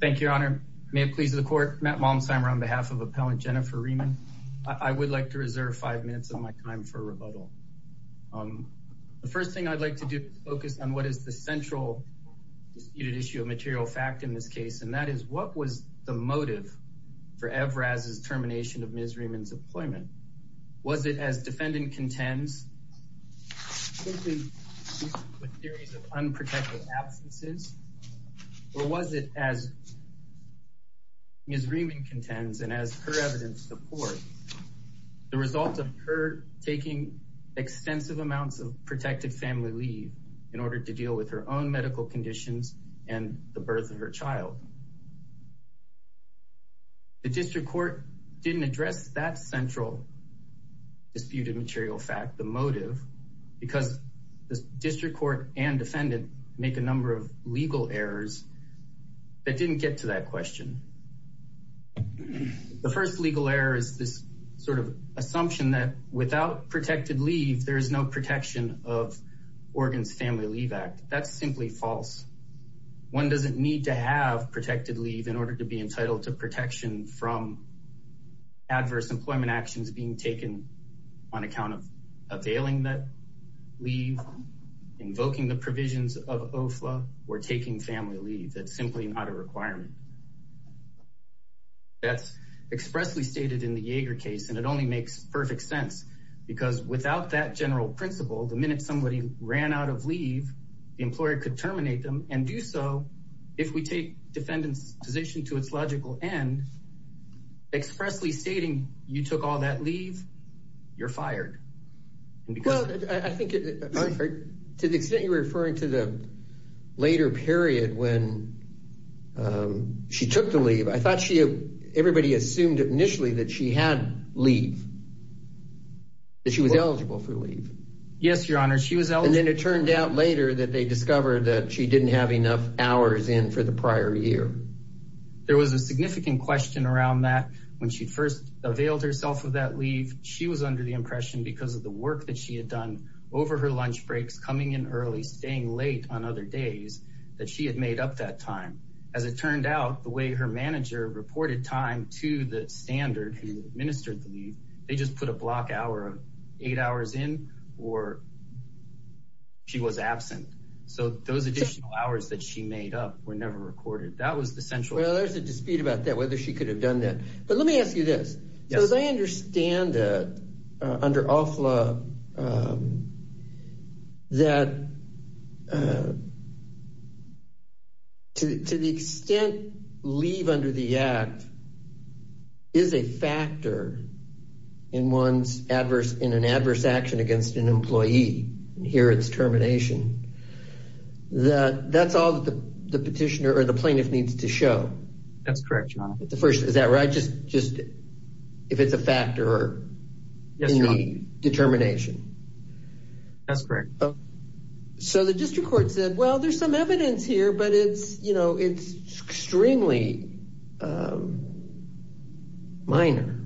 Thank you, Your Honor. May it please the Court, Matt Malmesheimer on behalf of Appellant Jennifer Rieman. I would like to reserve five minutes of my time for rebuttal. The first thing I'd like to do is focus on what is the central disputed issue of material fact in this case, and that is what was the motive for Evraz's termination of Ms. Rieman's employment? Was it as defendant contends, simply with theories of unprotected absences, or was it as Ms. Rieman contends, and as her evidence supports, the result of her taking extensive amounts of protected family leave in order to deal with her own medical conditions and the birth of her child? The District Court didn't address that central disputed material fact, the motive, because the District Court and defendant make a number of legal errors that didn't get to that question. The first legal error is this sort of assumption that without protected leave, there is no protection of Oregon's Family Leave Act. That's simply false. One doesn't need to have protected leave in order to be entitled to protection from adverse employment actions being taken on account of availing that leave, invoking the provisions of OFLA, or taking family leave. That's simply not a requirement. That's expressly stated in the Yeager case, and it only makes perfect sense because without that general principle, the minute somebody ran out of leave, the employer could terminate them and do so if we take defendant's position to its logical end, expressly stating you took all that leave, you're fired. To the extent you're referring to the later period when she took the leave, I thought everybody assumed initially that she had leave, that she was eligible for leave. Yes, Your Honor, she was eligible. And then it turned out later that they discovered that she didn't have enough hours in for the prior year. There was a significant question around that. When she first availed herself of that leave, she was under the impression because of the work that she had done over her lunch breaks, coming in early, staying late on other days, that she had made up that time. As it turned out, the way her manager reported time to the standard who administered the leave, they just put a block eight hours in, or she was absent. So those additional hours that she made up were never recorded. That was the central... Well, there's a dispute about that, whether she could have done that. But let me ask you this. Yes. So as I understand it, under OFLA, that to the extent leave under the act is a factor in an adverse action against an employee, and here it's termination. That's all the petitioner or the plaintiff needs to show. That's correct, Your Honor. Is that right? Just if it's a factor in the determination. That's correct. So the district court said, well, there's some evidence here, but it's extremely minor.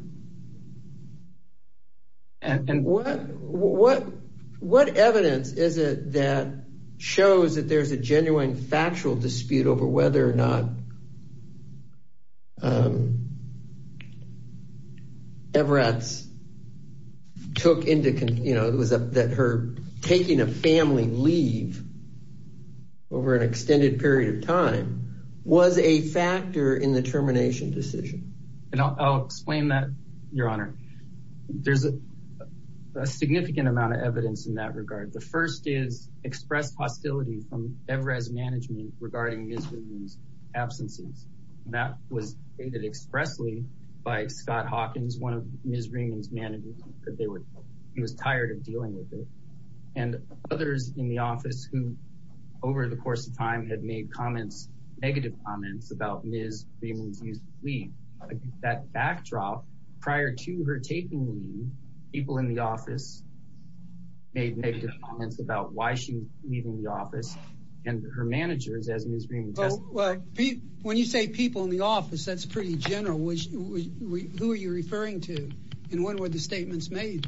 And what evidence is it that shows that there's a genuine factual dispute over whether or that her taking a family leave over an extended period of time was a factor in the termination decision? And I'll explain that, Your Honor. There's a significant amount of evidence in that regard. The first is expressed hostility from Everett's management regarding Ms. Ringman's absences. That was stated expressly by Scott Hawkins, one of Ms. Ringman's managers, because he was tired of dealing with it. And others in the office who over the course of time had made negative comments about Ms. Ringman's use of leave. That backdrop prior to her taking leave, people in the office made negative comments about why she was leaving the office and her managers as Ms. Ringman testified. When you say people in the office, that's pretty general. Who are you referring to? And what were the statements made?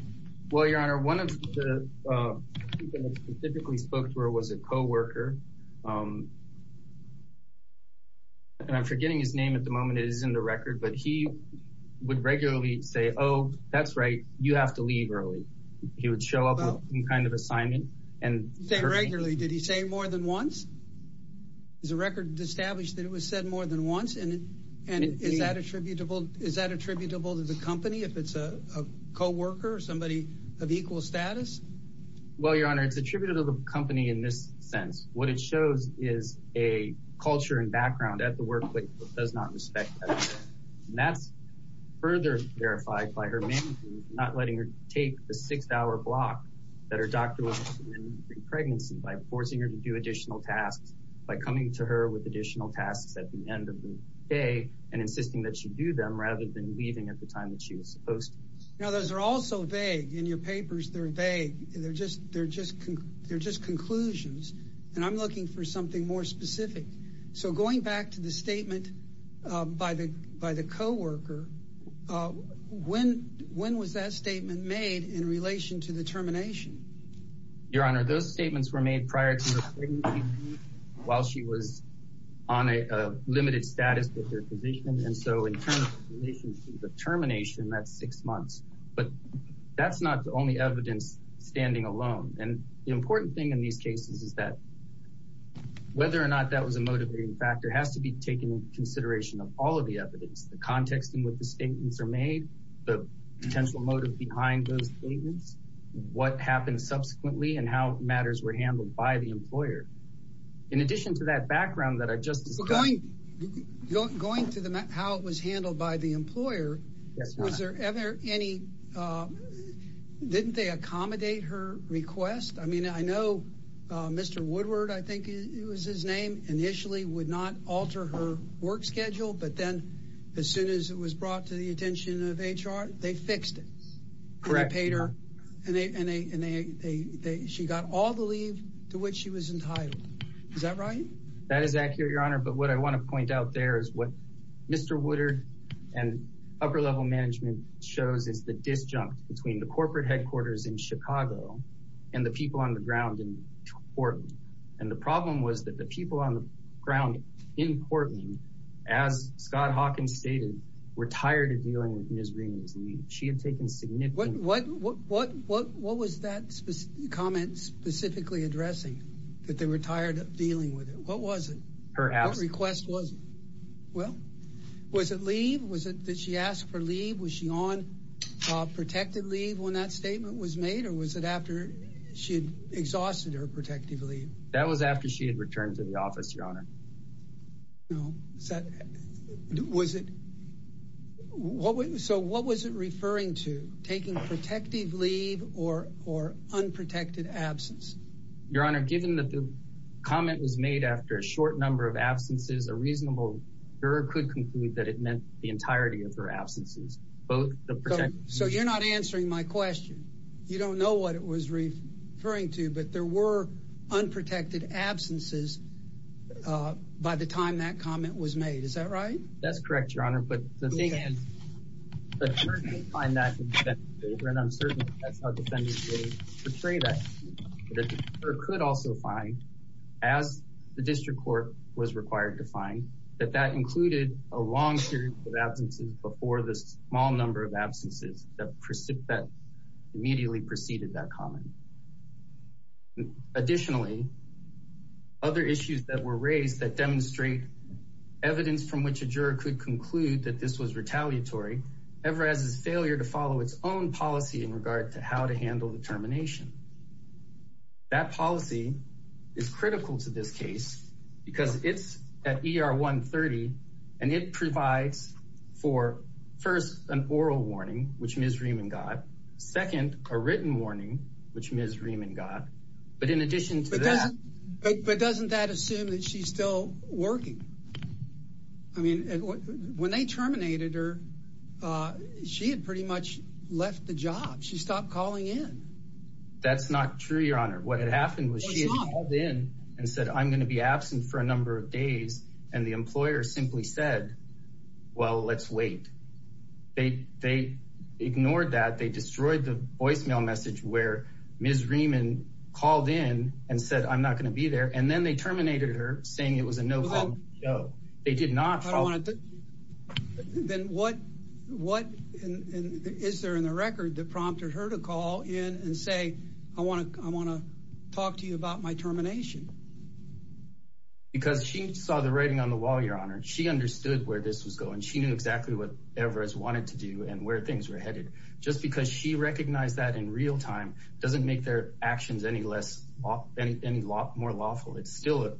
Well, Your Honor, one of the people who specifically spoke to her was a co-worker. And I'm forgetting his name at the moment. It is in the record. But he would regularly say, oh, that's right. You have to leave early. He would show up with some kind of assignment and say regularly. Did he say more than once? Is the record established that it was said more than once? And is that attributable to the company if it's a co-worker or somebody of equal status? Well, Your Honor, it's attributed to the company in this sense. What it shows is a culture and background at the workplace that does not respect that. And that's further verified by her managers not letting her take the six-hour block that her doctor was given during pregnancy by forcing her to do additional tasks, by coming to her with additional tasks at the end of the day and insisting that she do them rather than leaving at the time that she was supposed to. Now, those are all so vague. In your papers, they're vague. They're just conclusions. And I'm looking for something more specific. So going back to the statement by the co-worker, when was that statement made in relation to the termination? Your Honor, those statements were made prior to her pregnancy while she was on a limited status with her physician. And so in terms of the termination, that's six months. But that's not the only evidence standing alone. And the important thing in these cases is that whether or not that was a motivating factor has to be taken into consideration of all of the evidence, the context in which the statements are made, the potential motive behind those statements, what happened subsequently, and how matters were handled by the employer. In addition to that background that I've just described... Well, going to how it was handled by the employer, was there ever any... Didn't they accommodate her request? I mean, I know Mr. Woodward, I think it was his name, initially would not alter her work schedule. But then as soon as it was brought to the attention of HR, they fixed it. Correct. They paid her and she got all the leave to which she was entitled. Is that right? That is accurate, Your Honor. But what I want to point out there is what Mr. Woodward and upper level management shows is the disjunct between the corporate headquarters in Chicago and the people on the ground in Portland. And the problem was that the people on the ground in Portland, as Scott Hawkins stated, were tired of dealing with Ms. Green's leave. She had taken significant... What was that comment specifically addressing? That they were tired of dealing with it? What was it? Her ask. What request was it? Well, was it leave? Was it that she asked for leave? Was she on protected leave when that statement was made? Or was it she had exhausted her protective leave? That was after she had returned to the office, Your Honor. No. So what was it referring to? Taking protective leave or unprotected absence? Your Honor, given that the comment was made after a short number of absences, a reasonable juror could conclude that it meant the entirety of her absences. So you're not answering my question. You don't know what it was referring to, but there were unprotected absences by the time that comment was made. Is that right? That's correct, Your Honor. But the thing is, the jurors could find that in the defendant's favor, and I'm certain that's how defendants portray that. The juror could also find, as the district court was required to find, that that included a long series of absences before the small number of absences that immediately preceded that comment. Additionally, other issues that were raised that demonstrate evidence from which a juror could conclude that this was retaliatory, ever as its failure to follow its own policy in regard to how to handle the termination. That policy is critical to this case because it's at ER 130, and it provides for, first, an oral warning, which Ms. Riemann got. Second, a written warning, which Ms. Riemann got. But in addition to that... But doesn't that assume that she's still working? I mean, when they terminated her, she had pretty much left the job. She stopped calling in. That's not true, Your Honor. What had happened was she had called in and said, I'm going to be absent for a number of days, and the employer simply said, well, let's wait. They ignored that. They destroyed the voicemail message where Ms. Riemann called in and said, I'm not going to be there, and then they terminated her, saying it was a no-go. They did not follow... Then what is there in the record that prompted her to call in and say, I want to talk to you about my termination? Because she saw the writing on the wall, Your Honor. She understood where this was going. She knew exactly what Everest wanted to do and where things were headed. Just because she recognized that in real time doesn't make their actions any more lawful. It's still an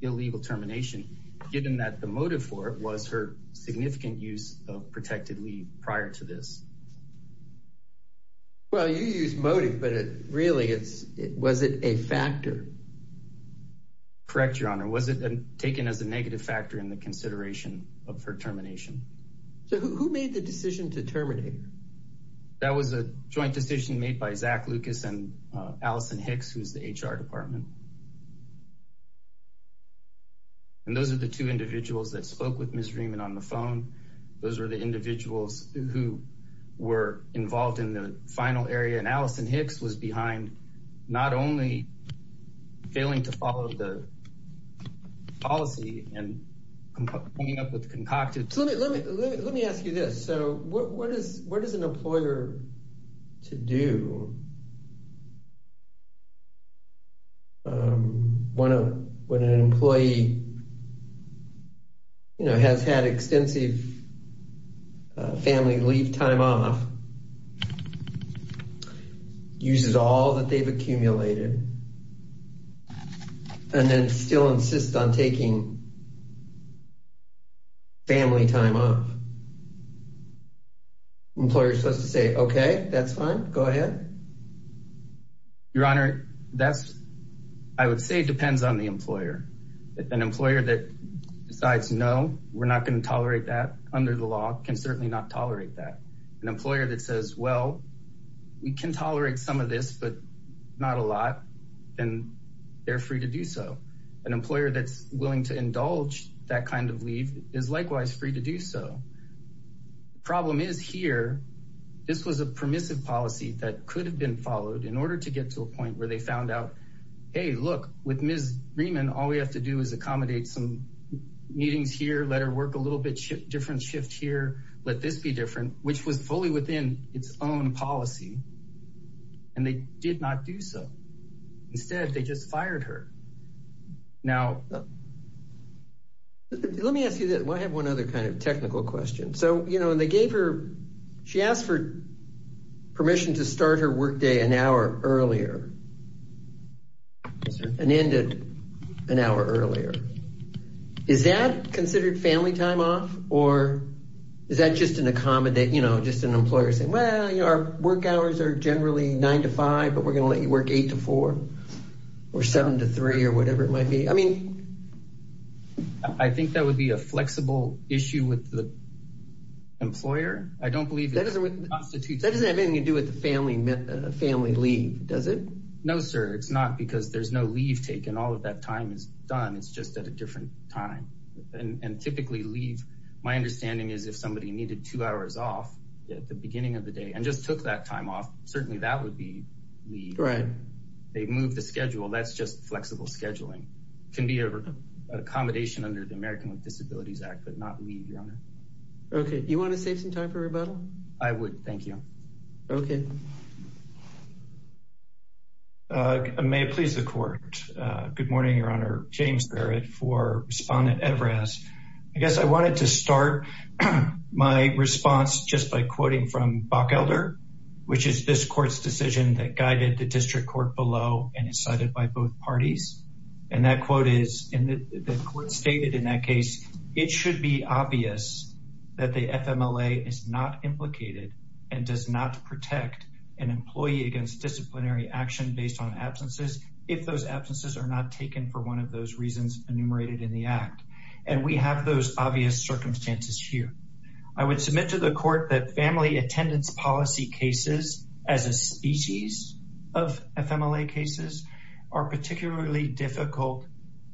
illegal termination, given that the motive for it was her significant use of protected leave prior to this. Well, you used motive, but really, was it a factor? Correct, Your Honor. Was it taken as a negative factor in the consideration of her termination? Who made the decision to terminate her? That was a joint decision made by Zach Lucas and Alison Hicks, who's the HR department. Those are the two individuals that spoke with Ms. Riemann on the phone. Those were the individuals who were involved in the final area, and Alison Hicks was behind not only failing to follow the policy and coming up with the concocted... Let me ask you this. What is an employer to do when an employee has had extensive family leave time off, uses all that they've accumulated, and then still insists on taking family time off? Employer's supposed to say, okay, that's fine. Go ahead. Your Honor, I would say it depends on the employer. An employer that decides, no, we're not going to tolerate that under the law can certainly not tolerate that. An employer that says, well, we can tolerate some of this, but not a lot, then they're free to do so. An employer that's willing to indulge that kind of leave is likewise free to do so. The problem is here, this was a permissive policy that could have been followed in order to get to a point where they found out, hey, look, with Ms. Riemann, all we have to do is accommodate some meetings here, let her work a little bit different shift here, let this be different, which was fully within its own policy, and they did not do so. Instead, they just fired her. Now, let me ask you this. I have one other kind of technical question. She asked for permission to start her workday an hour earlier, and ended an hour earlier. Is that considered family time off, or is that just an employer saying, well, our work hours are generally nine to five, but we're going to let you work eight to four, or seven to three, or whatever it might be? I mean... I think that would be a flexible issue with the employer. I don't believe that constitutes... That doesn't have anything to do with the family leave, does it? No, sir. It's not because there's no leave taken. All of that time is done. It's just at a different time, and typically leave, my understanding is if somebody needed two hours off at the beginning of the day, and just took that time off, certainly that would be leave. They moved the schedule. That's just flexible scheduling. It can be an accommodation under the American with Disabilities Act, but not leave, Your Honor. Okay. Do you want to save some time for rebuttal? I would. Thank you. Okay. May it please the Court. Good morning, Your Honor. James Barrett for Respondent Everest. I guess I wanted to start my response just by quoting from Bockelder, which is this court's decision that guided the district court below, and is cited by both parties. And that quote is, and the court stated in that case, it should be obvious that the FMLA is not implicated, and does not protect an employee against disciplinary action based on absences, if those absences are not taken for one of those reasons enumerated in the act. And we have those obvious circumstances here. I would submit to the court that family attendance policy cases as a species of FMLA cases are particularly difficult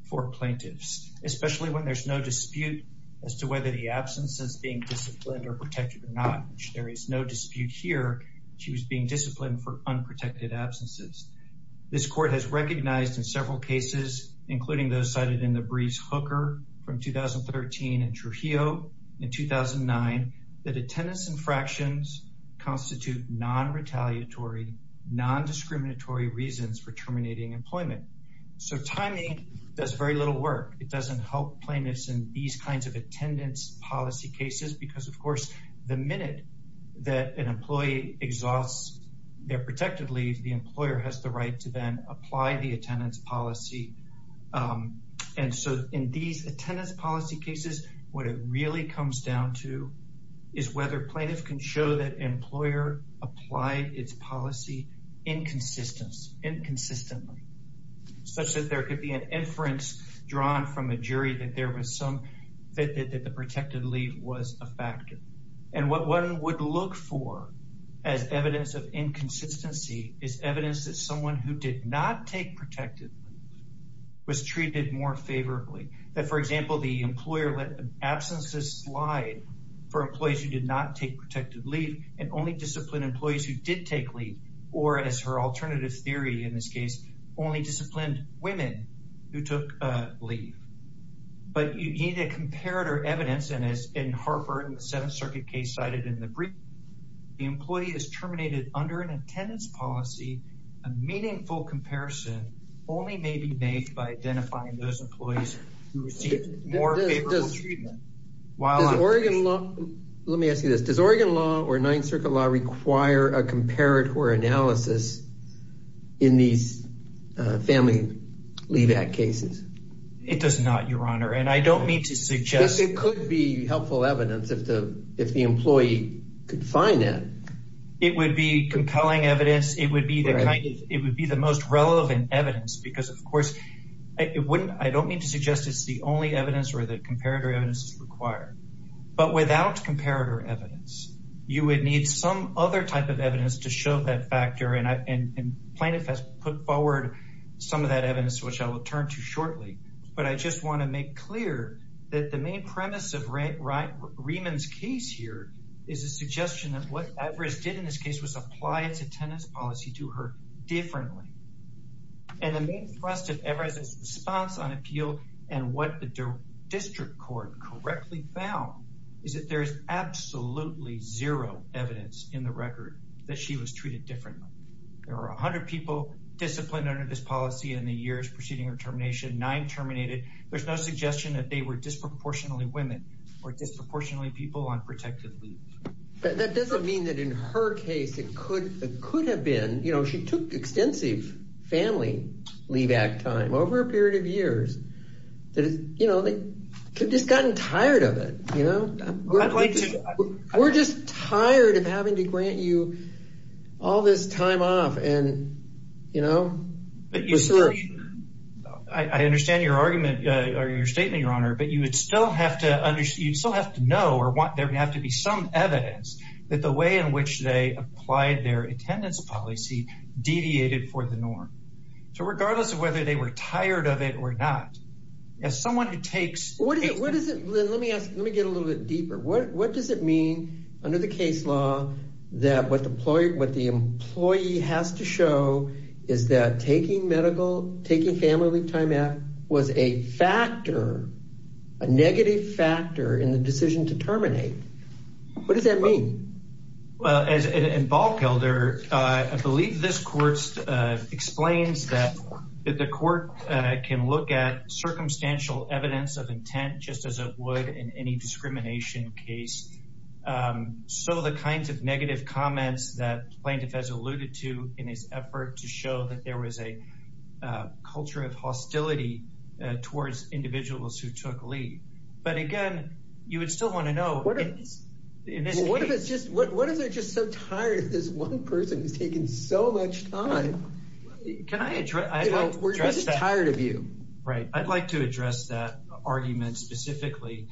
for plaintiffs, especially when there's no dispute as to whether the absence is being disciplined or protected or not. There is no dispute here. She was being disciplined for unprotected absences. This court has recognized in several cases, including those cited in the briefs Hooker from 2013 and Trujillo in 2009, that attendance infractions constitute non-retaliatory, non-discriminatory reasons for terminating employment. So timing does very little work. It doesn't help plaintiffs in these kinds of attendance policy cases, because of course, the minute that an employee exhausts their protected leave, the employer has the right to then apply the attendance policy. And so in these attendance policy cases, what it really comes down to is whether plaintiffs can show that employer applied its policy inconsistently, such that there could be an inference drawn from a jury that there was some that the protected leave was a factor. And what one would look for as evidence of inconsistency is evidence that someone who did not take protected leave was treated more favorably. That, for example, the employer let absences slide for employees who did not take protected leave and only disciplined employees who did take leave, or as her alternative theory in this case, only disciplined women who took leave. But you need a comparator evidence and as in Harper in the Seventh Circuit case cited in the brief, the employee is terminated under an attendance policy, a meaningful comparison only may be made by identifying those employees who received more favorable treatment. Does Oregon law, let me ask you this, does Oregon law or analysis in these family leave act cases? It does not, Your Honor. And I don't mean to suggest... It could be helpful evidence if the employee could find that. It would be compelling evidence. It would be the kind of, it would be the most relevant evidence because of course it wouldn't, I don't mean to suggest it's the only evidence where the comparator evidence is required, but without comparator evidence, you would need some other type of evidence to show that factor. And Plaintiff has put forward some of that evidence, which I will turn to shortly. But I just want to make clear that the main premise of Riemann's case here is a suggestion of what Everest did in this case was apply its attendance policy to her differently. And the main thrust of Everest's response on appeal and what the record that she was treated differently. There were a hundred people disciplined under this policy in the years preceding her termination, nine terminated. There's no suggestion that they were disproportionately women or disproportionately people on protective leave. That doesn't mean that in her case it could have been, you know, she took extensive family leave act time over a period of years that is, you know, they could have just gotten tired of it, you know. We're just tired of having to grant you all this time off and, you know, research. I understand your argument or your statement, your honor, but you would still have to understand, you still have to know or want, there would have to be some evidence that the way in which they applied their attendance policy deviated for the norm. So regardless of whether they were tired of it or not, as someone who takes. What is it, let me ask, let me get a little bit deeper. What does it mean under the case law that what the employee has to show is that taking medical, taking family time out was a factor, a negative factor in the decision to look at circumstantial evidence of intent, just as it would in any discrimination case. So the kinds of negative comments that plaintiff has alluded to in his effort to show that there was a culture of hostility towards individuals who took leave. But again, you would still want to know. What if it's just, what if they're just so tired of this one person who's taking so much time? Can I address that? We're just tired of you, right? I'd like to address that argument specifically.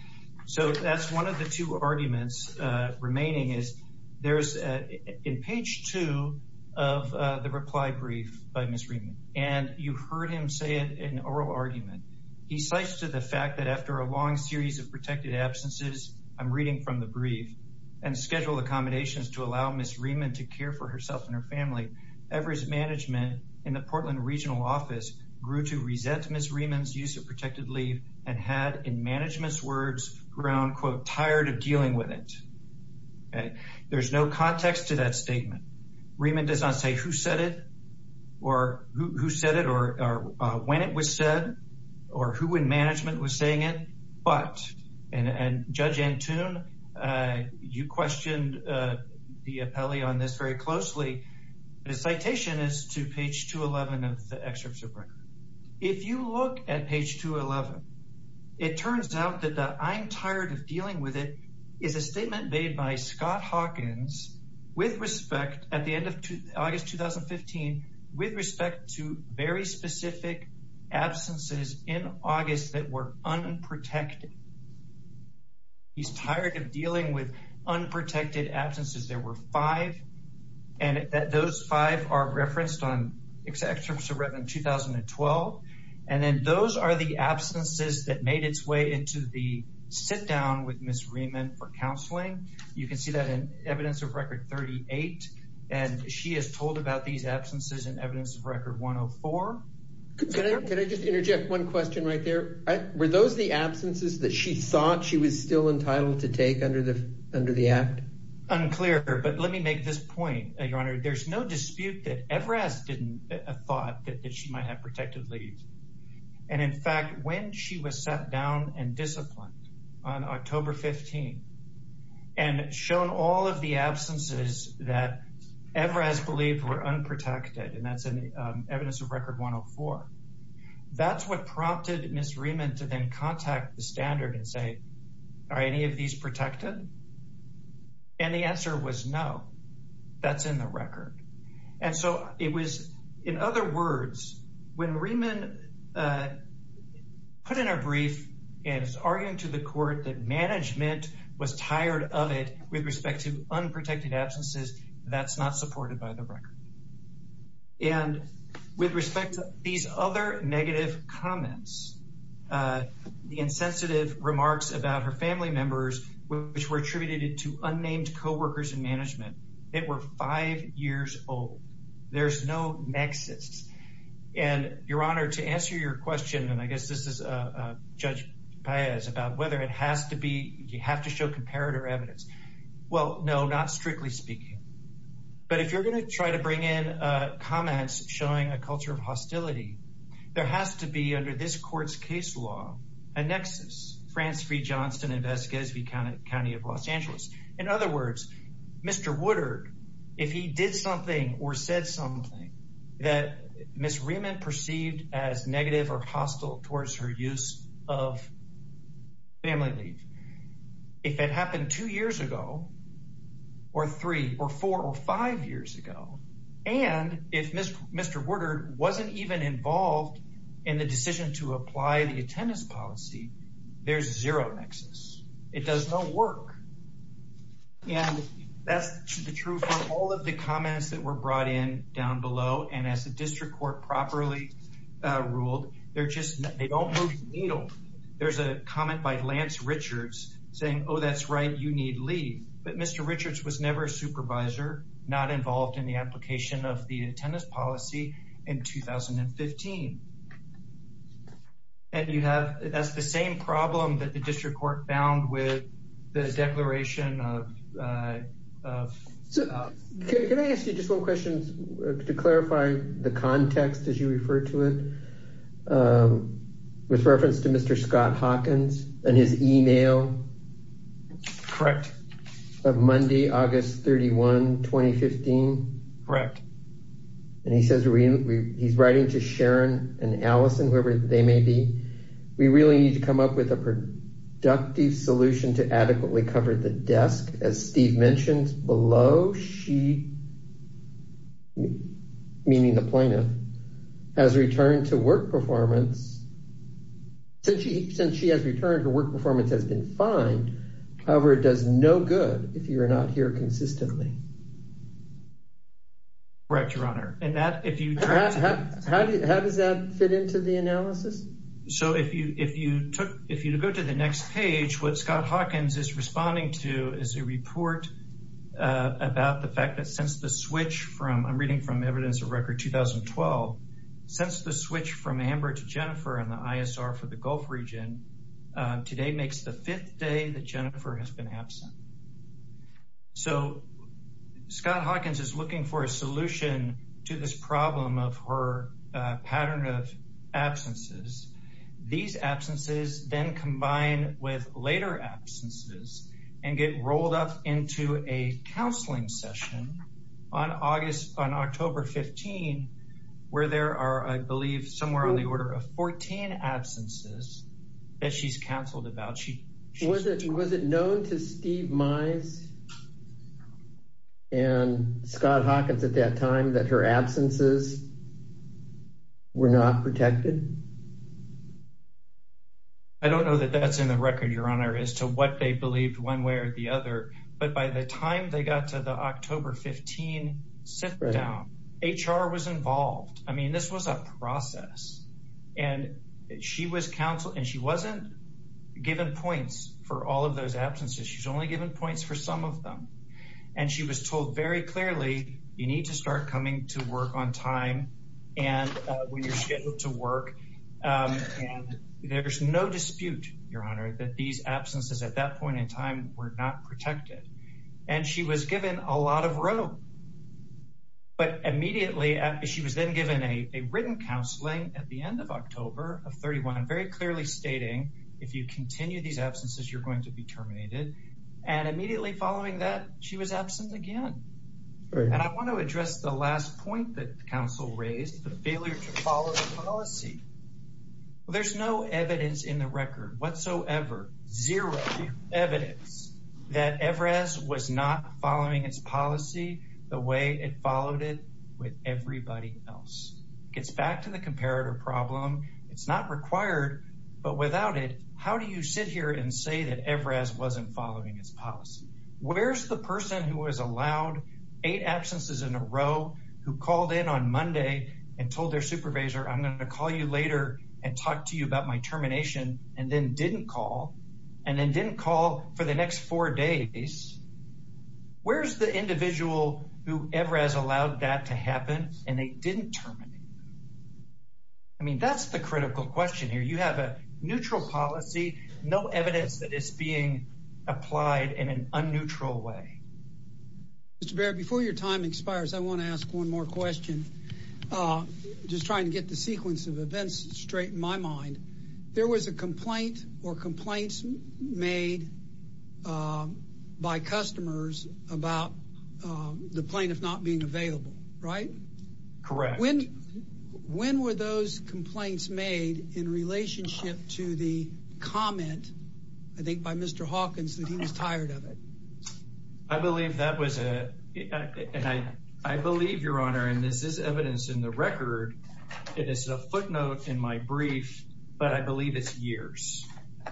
So that's one of the two arguments remaining is there's in page two of the reply brief by Ms. Riemann and you heard him say it in oral argument. He cites to the fact that after a long series of protected absences, I'm reading from the brief and schedule accommodations to allow Ms. Riemann to care for herself and her family. Everest management in the Portland regional office grew to resent Ms. Riemann's use of protected leave and had in management's words ground quote tired of dealing with it. Okay. There's no context to that statement. Riemann does not say who said it or who said it or when it was said or who in management was saying it. And judge Antune, you questioned the appellee on this very closely. The citation is to page two 11 of the excerpt of record. If you look at page two 11, it turns out that the I'm tired of dealing with it is a statement made by Scott Hawkins with respect at the end of August, 2015, with respect to very specific absences in August that were unprotected. He's tired of dealing with unprotected absences. There were five and that those five are referenced on excerpts of record 2012. And then those are the absences that made its way into the sit down with Ms. Riemann for counseling. You can see that in evidence of record 38 and she has told about these absences in evidence of record 104. Can I just interject one question right there? Were those the absences that she thought she was still entitled to take under the under the act? Unclear, but let me make this point, your honor. There's no dispute that Everest didn't thought that she might have protected leaves. And in fact, when she was sat down and disciplined on October 15 and shown all of the absences that ever has believed were unprotected, and that's an evidence of record 104. That's what prompted Ms. Riemann to then contact the standard and say, are any of these protected? And the answer was no, that's in the record. And so it was, in other words, when Riemann put in a brief and was arguing to the court that management was tired of it with respect to unprotected absences, that's not supported by the record. And with respect to these other negative comments, the insensitive remarks about her family members, which were attributed to unnamed coworkers in management, it were five years old. There's no nexus. And your honor, to answer your question, and I guess this is Judge Paez about whether it has to be, you have to show comparator evidence. Well, no, not strictly speaking. But if you're going to try to bring in comments showing a culture of hostility, there has to be under this court's case law, a nexus, France v. Johnston and Vasquez v. County of Los Angeles. In other words, Mr. Woodard, if he did something or said something that Ms. Riemann perceived as negative or hostile towards her use of family leave, if it happened two years ago or three or four or five years ago, and if Mr. Woodard wasn't even involved in the decision to apply the attendance policy, there's zero nexus. It does no work. And that's true for all of the comments that were brought in down below. And as the district court properly ruled, they don't move the needle. There's a comment by Lance Richards saying, oh, that's right, you need leave. But Mr. Richards was never a supervisor, not involved in the application of the attendance policy in 2015. And you have, that's the same problem that the district court found with the declaration of. Can I ask you just one question to clarify the context as you refer to it? With reference to Mr. Scott Hawkins and his email. Correct. Of Monday, August 31, 2015. Correct. And he says, he's writing to Sharon and Allison, whoever they may be. We really need to come up with a productive solution to adequately cover the desk. As Steve mentioned below, she, meaning the plaintiff, has returned to work performance. Since she has returned, her work performance has been fine. However, it does no good if you're not here Correct, your honor. How does that fit into the analysis? So if you go to the next page, what Scott Hawkins is responding to is a report about the fact that since the switch from, I'm reading from evidence of record 2012, since the switch from Amber to Jennifer in the ISR for the Gulf region, today makes the fifth day that Jennifer has been absent. So Scott Hawkins is looking for a solution to this problem of her pattern of absences. These absences then combine with later absences and get rolled up into a counseling session on October 15, where there are, I believe, somewhere on the order of 14 absences that she's counseled about. Was it known to Steve Mize and Scott Hawkins at that time that her absences were not protected? I don't know that that's in the record, your honor, as to what they believed one way or the other. But by the time they got to the October 15 sit down, HR was involved. I mean, this was a process. And she was counseled, and she wasn't given points for all of those absences. She's only given points for some of them. And she was told very clearly, you need to start coming to work on time. And when you're scheduled to work, there's no dispute, your honor, that these absences at that point in time were not protected. And she was given a lot of room. But immediately, she was then given a written counseling at the end of October of 31, very clearly stating, if you continue these absences, you're going to be terminated. And immediately following that, she was absent again. And I want to address the last point that counsel raised, the failure to whatsoever, zero evidence that Evraz was not following its policy the way it followed it with everybody else. It gets back to the comparator problem. It's not required, but without it, how do you sit here and say that Evraz wasn't following its policy? Where's the person who was allowed eight absences in a row, who called in on Monday and told their termination, and then didn't call, and then didn't call for the next four days? Where's the individual who Evraz allowed that to happen, and they didn't terminate? I mean, that's the critical question here. You have a neutral policy, no evidence that is being applied in an unneutral way. Mr. Barrett, before your time expires, I want to ask one more question. I'm just trying to get the sequence of events straight in my mind. There was a complaint or complaints made by customers about the plaintiff not being available, right? Correct. When were those complaints made in relationship to the comment, I think by Mr. Hawkins, that he was tired of it? I believe that was a, and I believe, Your Honor, and this is evidence in the record, it is a footnote in my brief, but I believe it's years.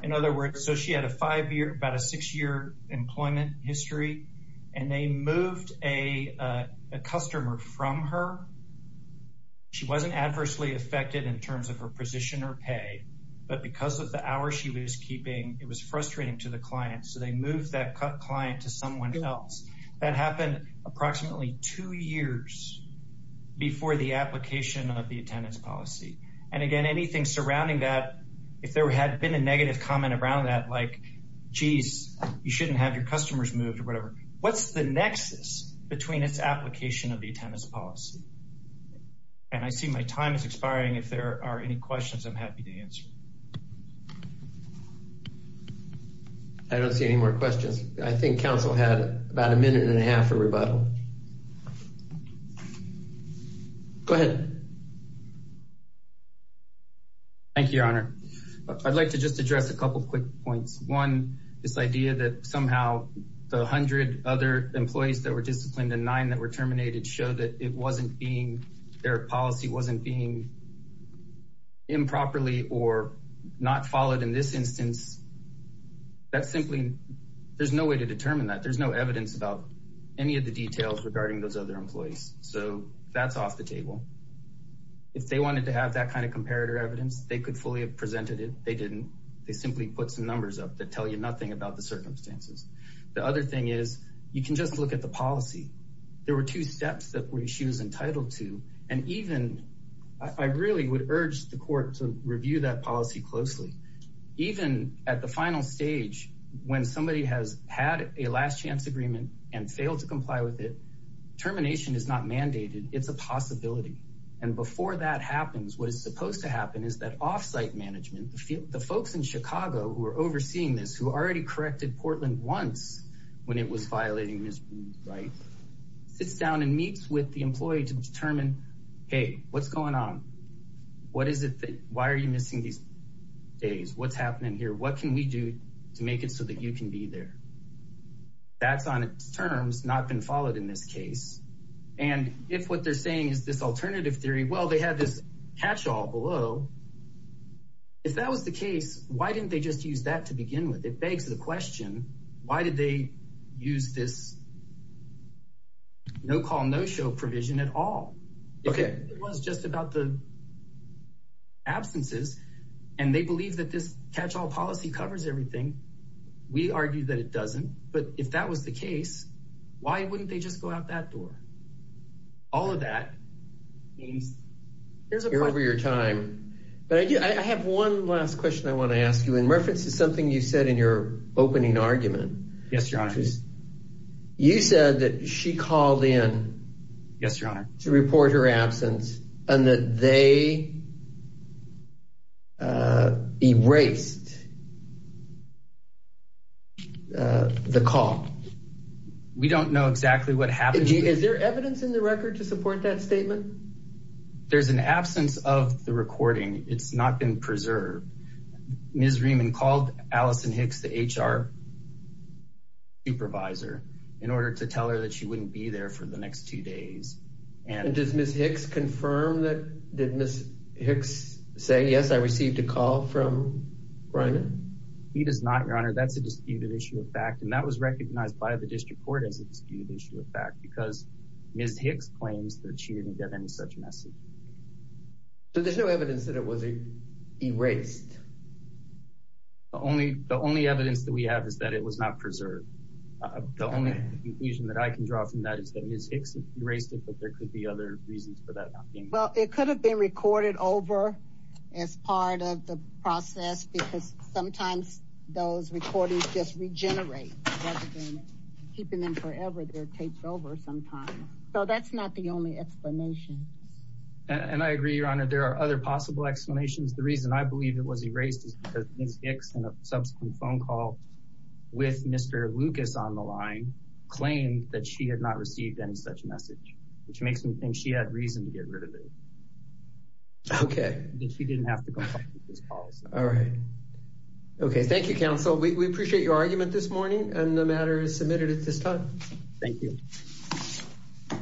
In other words, so she had a five-year, about a six-year employment history, and they moved a customer from her. She wasn't adversely affected in terms of her position or pay, but because of the hour she was frustrating to the client, so they moved that client to someone else. That happened approximately two years before the application of the attendance policy. And again, anything surrounding that, if there had been a negative comment around that, like, geez, you shouldn't have your customers moved or whatever, what's the nexus between its application of the attendance policy? And I see my time is expiring. If there are any questions, I'm happy to answer. I don't see any more questions. I think council had about a minute and a half for rebuttal. Go ahead. Thank you, Your Honor. I'd like to just address a couple of quick points. One, this idea that somehow the hundred other employees that were disciplined and nine that were terminated show that it wasn't being, their policy wasn't being improperly or not followed in this instance. That's simply, there's no way to determine that. There's no evidence about any of the details regarding those other employees. So that's off the table. If they wanted to have that kind of comparator evidence, they could fully have presented it. They didn't. They simply put some numbers up that tell you nothing about the circumstances. The other thing is you can just look at the policy. There were two steps that she was entitled to. And even, I really would urge the at the final stage, when somebody has had a last chance agreement and failed to comply with it, termination is not mandated. It's a possibility. And before that happens, what is supposed to happen is that offsite management, the folks in Chicago who are overseeing this, who already corrected Portland once when it was violating this right, sits down and meets with the employee to determine, hey, what's going on? What is it? Why are you missing these days? What's happening here? What can we do to make it so that you can be there? That's on its terms, not been followed in this case. And if what they're saying is this alternative theory, well, they had this catch-all below. If that was the case, why didn't they just use that to begin with? It begs the question, why did they use this no-call, no-show provision at all? Okay. It was just about the catch-all policy covers everything. We argue that it doesn't. But if that was the case, why wouldn't they just go out that door? All of that. Here's a question. You're over your time. But I have one last question I want to ask you. And, Murfitts, it's something you said in your opening argument. Yes, Your Honor. You said that she called in. Yes, Your Honor. To report her absence and that they erased the call. We don't know exactly what happened. Is there evidence in the record to support that statement? There's an absence of the recording. It's not been preserved. Ms. Riemann called Allison Hicks, the HR supervisor, in order to tell her that she wouldn't be there for the next two days. Does Ms. Hicks confirm that? Did Ms. Hicks say, yes, I received a call from Riemann? He does not, Your Honor. That's a disputed issue of fact. And that was recognized by the district court as a disputed issue of fact because Ms. Hicks claims that she didn't get any such message. So there's no evidence that it was erased? The only evidence that we have is that it was not preserved. The only conclusion that I can the other reasons for that. Well, it could have been recorded over as part of the process because sometimes those recordings just regenerate rather than keeping them forever. They're taped over sometimes. So that's not the only explanation. And I agree, Your Honor. There are other possible explanations. The reason I believe it was erased is because Ms. Hicks, in a subsequent phone call with Mr. Lucas on the line, claimed that she had received any such message, which makes me think she had reason to get rid of it. Okay. That she didn't have to go through this call. All right. Okay. Thank you, counsel. We appreciate your argument this morning. And the matter is submitted at this time. Thank you.